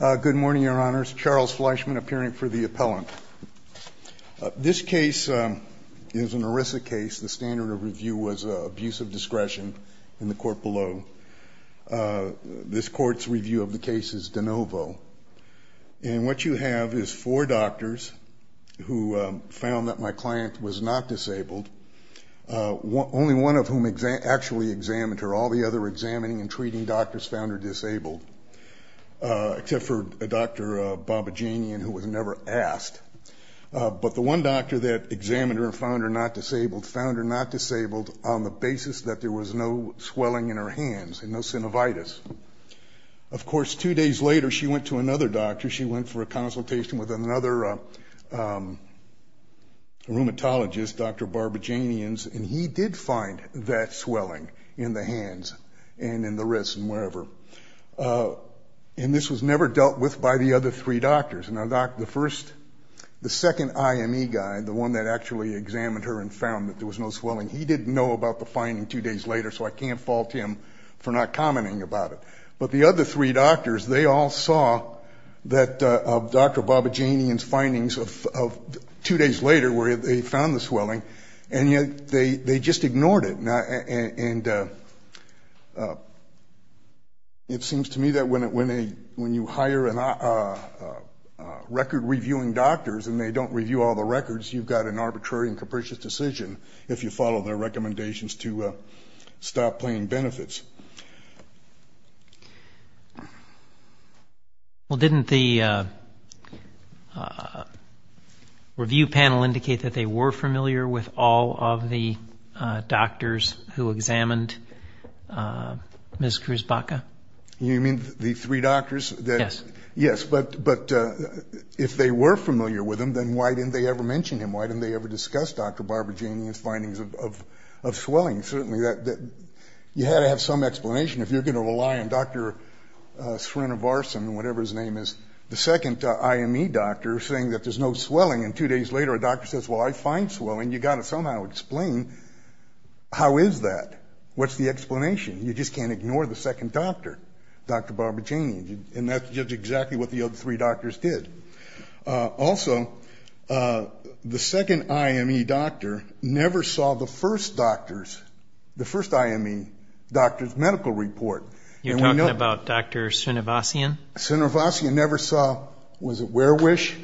Good morning, your honors. Charles Fleischman appearing for the appellant. This case is an ERISA case. The standard of review was abuse of discretion in the court below. This court's review of the case is de novo. And what you have is four doctors who found that my client was not disabled, only one of whom actually examined her. All the other examining and treating doctors found her not disabled, except for Dr. Babajanian, who was never asked. But the one doctor that examined her and found her not disabled found her not disabled on the basis that there was no swelling in her hands and no synovitis. Of course, two days later, she went to another doctor. She went for a consultation with another rheumatologist, Dr. Babajanian's, and he did find that swelling in the hands. And this was never dealt with by the other three doctors. Now, the first, the second IME guy, the one that actually examined her and found that there was no swelling, he didn't know about the finding two days later, so I can't fault him for not commenting about it. But the other three doctors, they all saw that Dr. Babajanian's findings of two days later where they found the to me that when you hire record-reviewing doctors and they don't review all the records, you've got an arbitrary and capricious decision if you follow their recommendations to stop paying benefits. Well, didn't the review panel indicate that they were familiar with all of the You mean the three doctors? Yes. Yes. But if they were familiar with him, then why didn't they ever mention him? Why didn't they ever discuss Dr. Babajanian's findings of swelling? Certainly that you had to have some explanation if you're going to rely on Dr. Srinivarsan, whatever his name is, the second IME doctor, saying that there's no swelling. And two days later, a doctor says, well, I find swelling. You've got to somehow explain how is that? What's the explanation? You just can't ignore the second doctor, Dr. Babajanian. And that's just exactly what the other three doctors did. Also, the second IME doctor never saw the first doctor's, the first IME doctor's medical report. You're talking about Dr. Srinivarsan? Srinivarsan never saw, was it Werewish?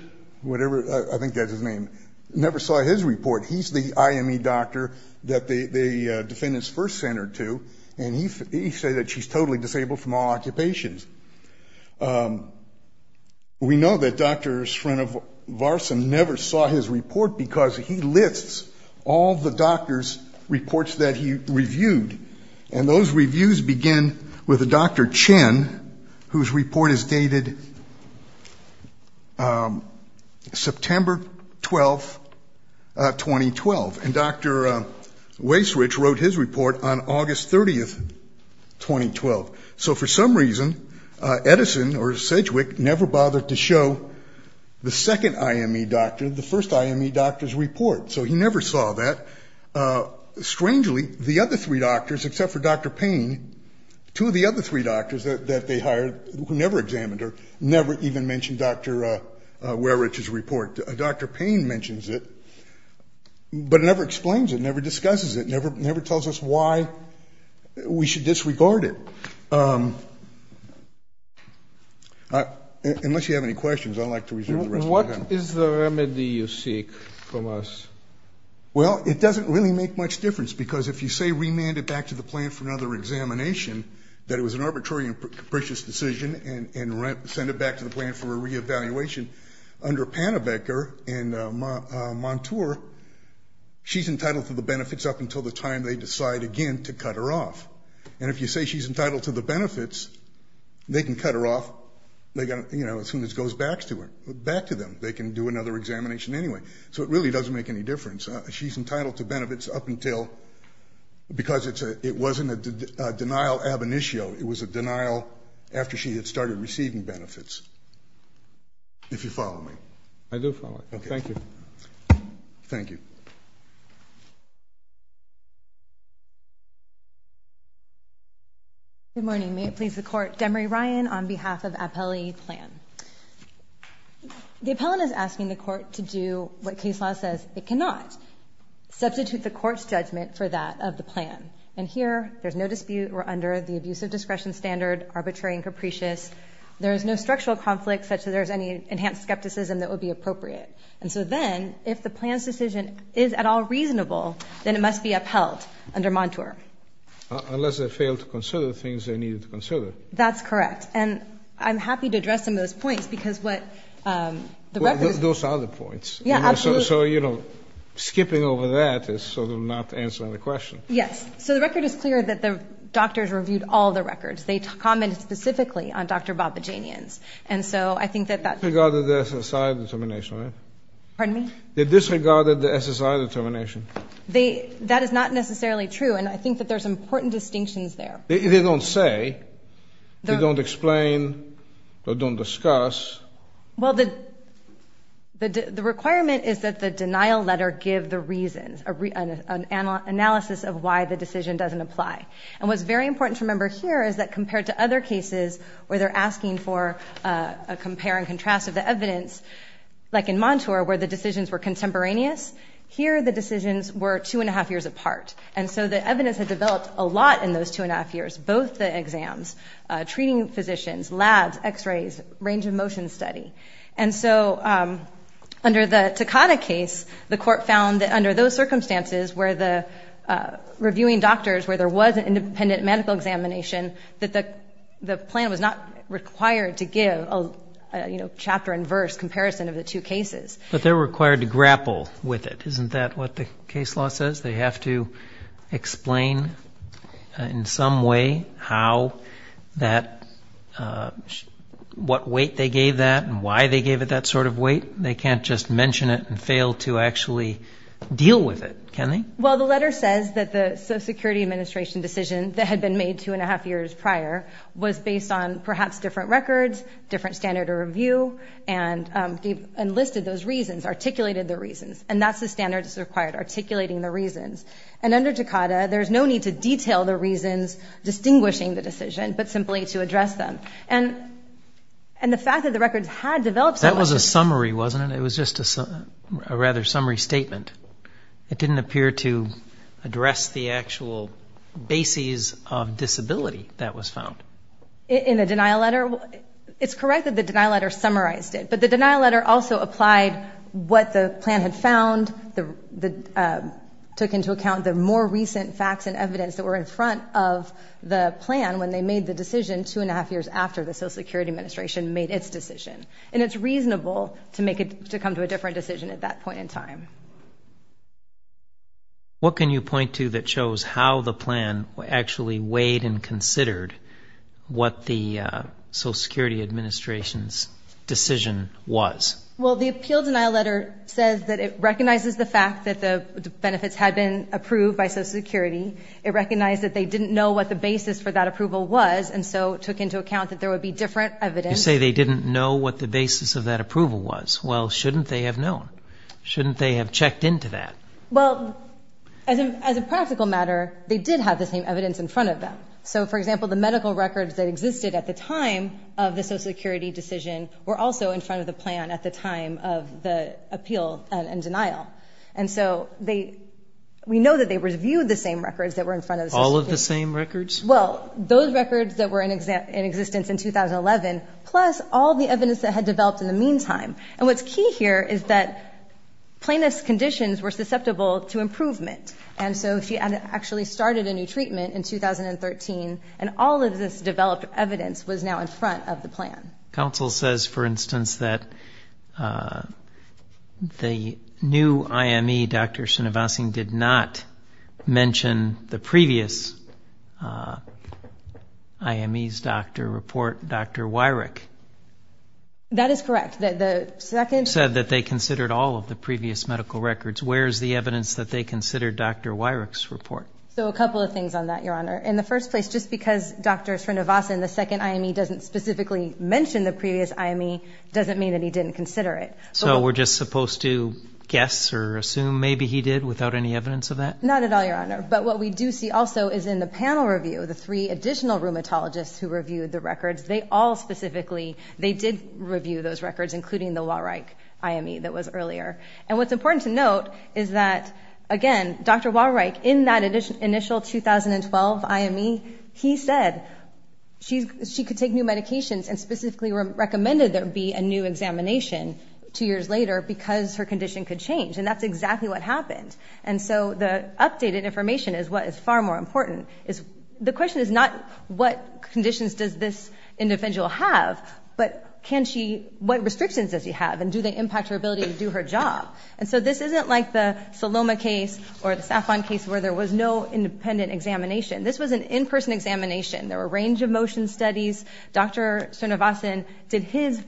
Whatever, I think that's his name, never saw his report. He's the IME doctor that the defendants first sent her to. And he said that she's totally disabled from all occupations. We know that Dr. Srinivarsan never saw his report because he lists all the doctor's reports that he reviewed. And those reviews begin with Dr. Chen, whose report is dated September 12, 2012. And Dr. Werewish wrote his report on August 30, 2012. So for some reason, Edison or Sedgwick never bothered to show the second IME doctor the first IME doctor's report. So he never saw that. Strangely, the other three doctors, except for Dr. Payne, two of the other three doctors that they hired who never examined her, never even mentioned Dr. Werewish's report. Dr. Payne mentions it. But never explains it, never discusses it, never tells us why we should disregard it. Unless you have any questions, I'd like to reserve the rest of my time. What is the remedy you seek from us? Well, it doesn't really make much difference, because if you say remand it back to the plan for another examination, that it was an arbitrary and capricious decision, and send it back to the plan for a re-evaluation, under Pannebecker and Montour, she's entitled to the benefits up until the time they decide, again, to cut her off. And if you say she's entitled to the benefits, they can cut her off, you know, as soon as it goes back to them. They can do another examination anyway. So it really doesn't make any difference. She's entitled to benefits up until, because it wasn't a denial ab initio, it was a denial after she had started receiving benefits, if you follow me. I do follow. Thank you. Thank you. Good morning. May it please the Court, Demery Ryan on behalf of Appellee Plan. The appellant is asking the Court to do what case law says it cannot, substitute the Court's judgment for that of the plan. And here, there's no dispute, we're under the abusive discretion standard, arbitrary and capricious. There's no kind of skepticism that would be appropriate. And so then, if the plan's decision is at all reasonable, then it must be upheld under Montour. Unless they fail to consider the things they needed to consider. That's correct. And I'm happy to address some of those points, because what the record is... Those are the points. Yeah, absolutely. So, you know, skipping over that is sort of not answering the question. Yes. So the record is clear that the doctors reviewed all the records. They commented specifically on Dr. Babajanian's. And so I think that that... They disregarded the SSI determination, right? Pardon me? They disregarded the SSI determination. That is not necessarily true. And I think that there's important distinctions there. They don't say. They don't explain. They don't discuss. Well, the requirement is that the denial letter give the reasons, an analysis of why the decision doesn't apply. And what's very important to remember here is that in contrast of the evidence, like in Montour, where the decisions were contemporaneous, here the decisions were two and a half years apart. And so the evidence had developed a lot in those two and a half years, both the exams, treating physicians, labs, x-rays, range of motion study. And so under the Takata case, the court found that under those circumstances where the reviewing doctors, where there was an independent medical examination, that the plan was not required to give a, you know, chapter and verse comparison of the two cases. But they're required to grapple with it. Isn't that what the case law says? They have to explain in some way how that... what weight they gave that and why they gave it that sort of weight? They can't just mention it and fail to actually deal with it, can they? Well, the letter says that the Social Security Administration decision that had been made two and a half years prior was based on perhaps different records, different standard of review, and listed those reasons, articulated the reasons. And that's the standard that's required, articulating the reasons. And under Takata, there's no need to detail the reasons distinguishing the decision, but simply to address them. And the fact that the records had developed... That was a summary, wasn't it? It was just a rather summary statement. It didn't appear to address the actual bases of disability that was found. In the denial letter? It's correct that the denial letter summarized it. But the denial letter also applied what the plan had found, took into account the more recent facts and evidence that were in front of the plan when they made the decision two and a half years after the Social Security Administration made its decision. What can you point to that shows how the plan actually weighed and considered what the Social Security Administration's decision was? Well, the appeal denial letter says that it recognizes the fact that the benefits had been approved by Social Security. It recognized that they didn't know what the basis for that approval was, and so took into account that there would be different evidence. You say they didn't know what the basis of that approval was. Well, shouldn't they have known? Shouldn't they have checked into that? Well, as a practical matter, they did have the same evidence in front of them. So, for example, the medical records that existed at the time of the Social Security decision were also in front of the plan at the time of the appeal and denial. And so we know that they reviewed the same records that were in front of the Social Security. All of the same records? Well, those records that were in existence in 2011, plus all the evidence that had developed in the meantime. And what's key here is that plaintiff's conditions were susceptible to improvement. And so she actually started a new treatment in 2013, and all of this developed evidence was now in front of the plan. Counsel says, for instance, that the new IME, Dr. Sinavasing, did not mention the previous IME's doctor report, Dr. Wyrick. That is correct. You said that they considered all of the previous medical records. Where is the evidence that they considered Dr. Wyrick's report? So a couple of things on that, Your Honor. In the first place, just because Dr. Sinavasing, the second IME, doesn't specifically mention the previous IME, doesn't mean that he didn't consider it. So we're just supposed to guess or assume maybe he did without any evidence of that? Not at all, Your Honor. But what we do see also is in the panel review, the three additional rheumatologists who reviewed the records, they all specifically, they did review those records, including the Wyrick IME that was earlier. And what's important to note is that, again, Dr. Wyrick, in that initial 2012 IME, he said she could take new medications and specifically recommended there be a new examination two years later because her condition could change. And that's exactly what happened. And so the updated information is what is far more important. The question is not what conditions does this individual have, but can she, what restrictions does she have and do they impact her ability to do her job? And so this isn't like the Saloma case or the Saffron case where there was no independent examination. This was an in-person examination. There were a range of motion studies. Dr. Sinavasing did his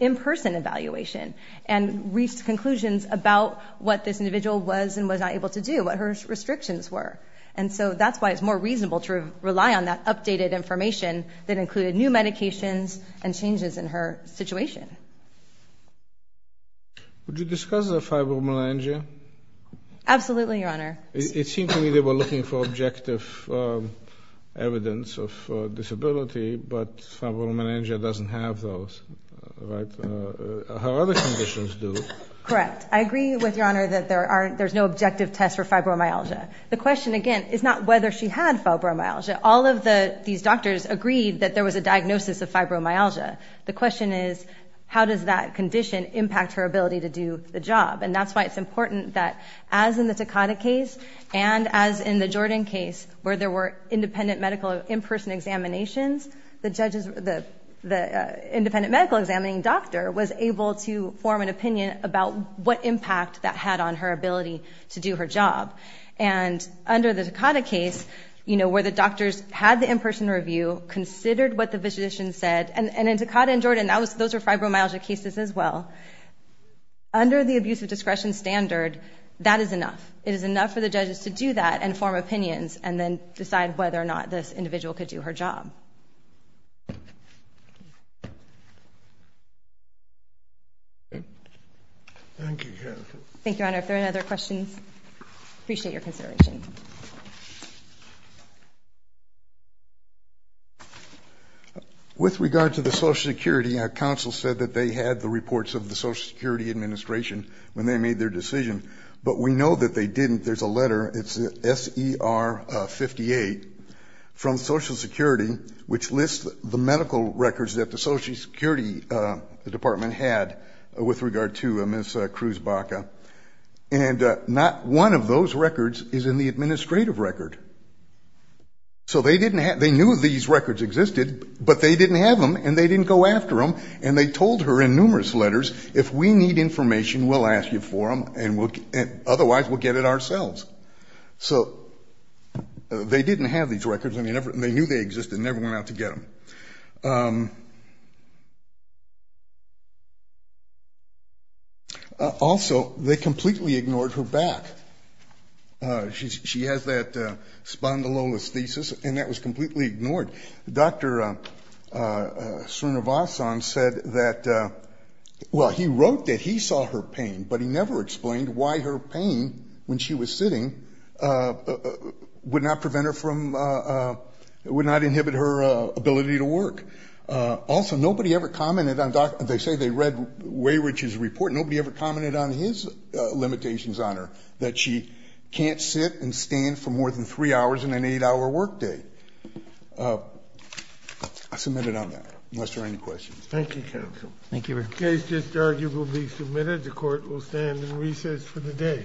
in-person evaluation and reached conclusions about what this individual was and was not able to do, what her restrictions were. And so that's why it's more reasonable to rely on that updated information that included new medications and changes in her situation. Would you discuss the fibromyalgia? Absolutely, Your Honor. It seemed to me they were looking for objective evidence of disability, but fibromyalgia doesn't have those. Her other conditions do. Correct. I agree with Your Honor that there's no objective test for fibromyalgia. The question, again, is not whether she had fibromyalgia. All of these doctors agreed that there was a diagnosis of fibromyalgia. The question is how does that condition impact her ability to do the job? And that's why it's important that as in the Takata case and as in the Jordan case where there were independent medical in-person examinations, the independent medical examining doctor was able to form an opinion about what impact that had on her ability to do her job. And under the Takata case, where the doctors had the in-person review, considered what the physician said, and in Takata and Jordan, those were fibromyalgia cases as well. Under the abuse of discretion standard, that is enough. It is enough for the judges to do that and form opinions and then decide whether or not this individual could do her job. Thank you, Jennifer. Thank you, Your Honor. If there are no other questions, I appreciate your consideration. With regard to the Social Security, counsel said that they had the reports of the Social Security Administration when they made their decision, but we know that they didn't. There's a letter, it's S.E.R. 58, from Social Security which lists the medical records that the Social Security Department had with regard to Ms. Cruz Baca, and not one of those records is in the administrative record. So they knew these records existed, but they didn't have them and they didn't go after them, and they told her in numerous letters, if we need information, we'll ask you for them, otherwise we'll get it ourselves. So they didn't have these records and they knew they existed and never went out to get them. Also, they completely ignored her back. She has that spondylolisthesis and that was completely ignored. Dr. Srinivasan said that, well, he wrote that he saw her pain, but he never explained why her pain, when she was sitting, would not prevent her from, would not inhibit her ability to work. Also, nobody ever commented on, they say they read Weyrich's report, nobody ever commented on his limitations on her, that she can't sit and stand for more than three hours in an eight-hour workday. I submit it on that, unless there are any questions. Thank you, counsel. In case this argument will be submitted, the court will stand in recess for the day. Thank you.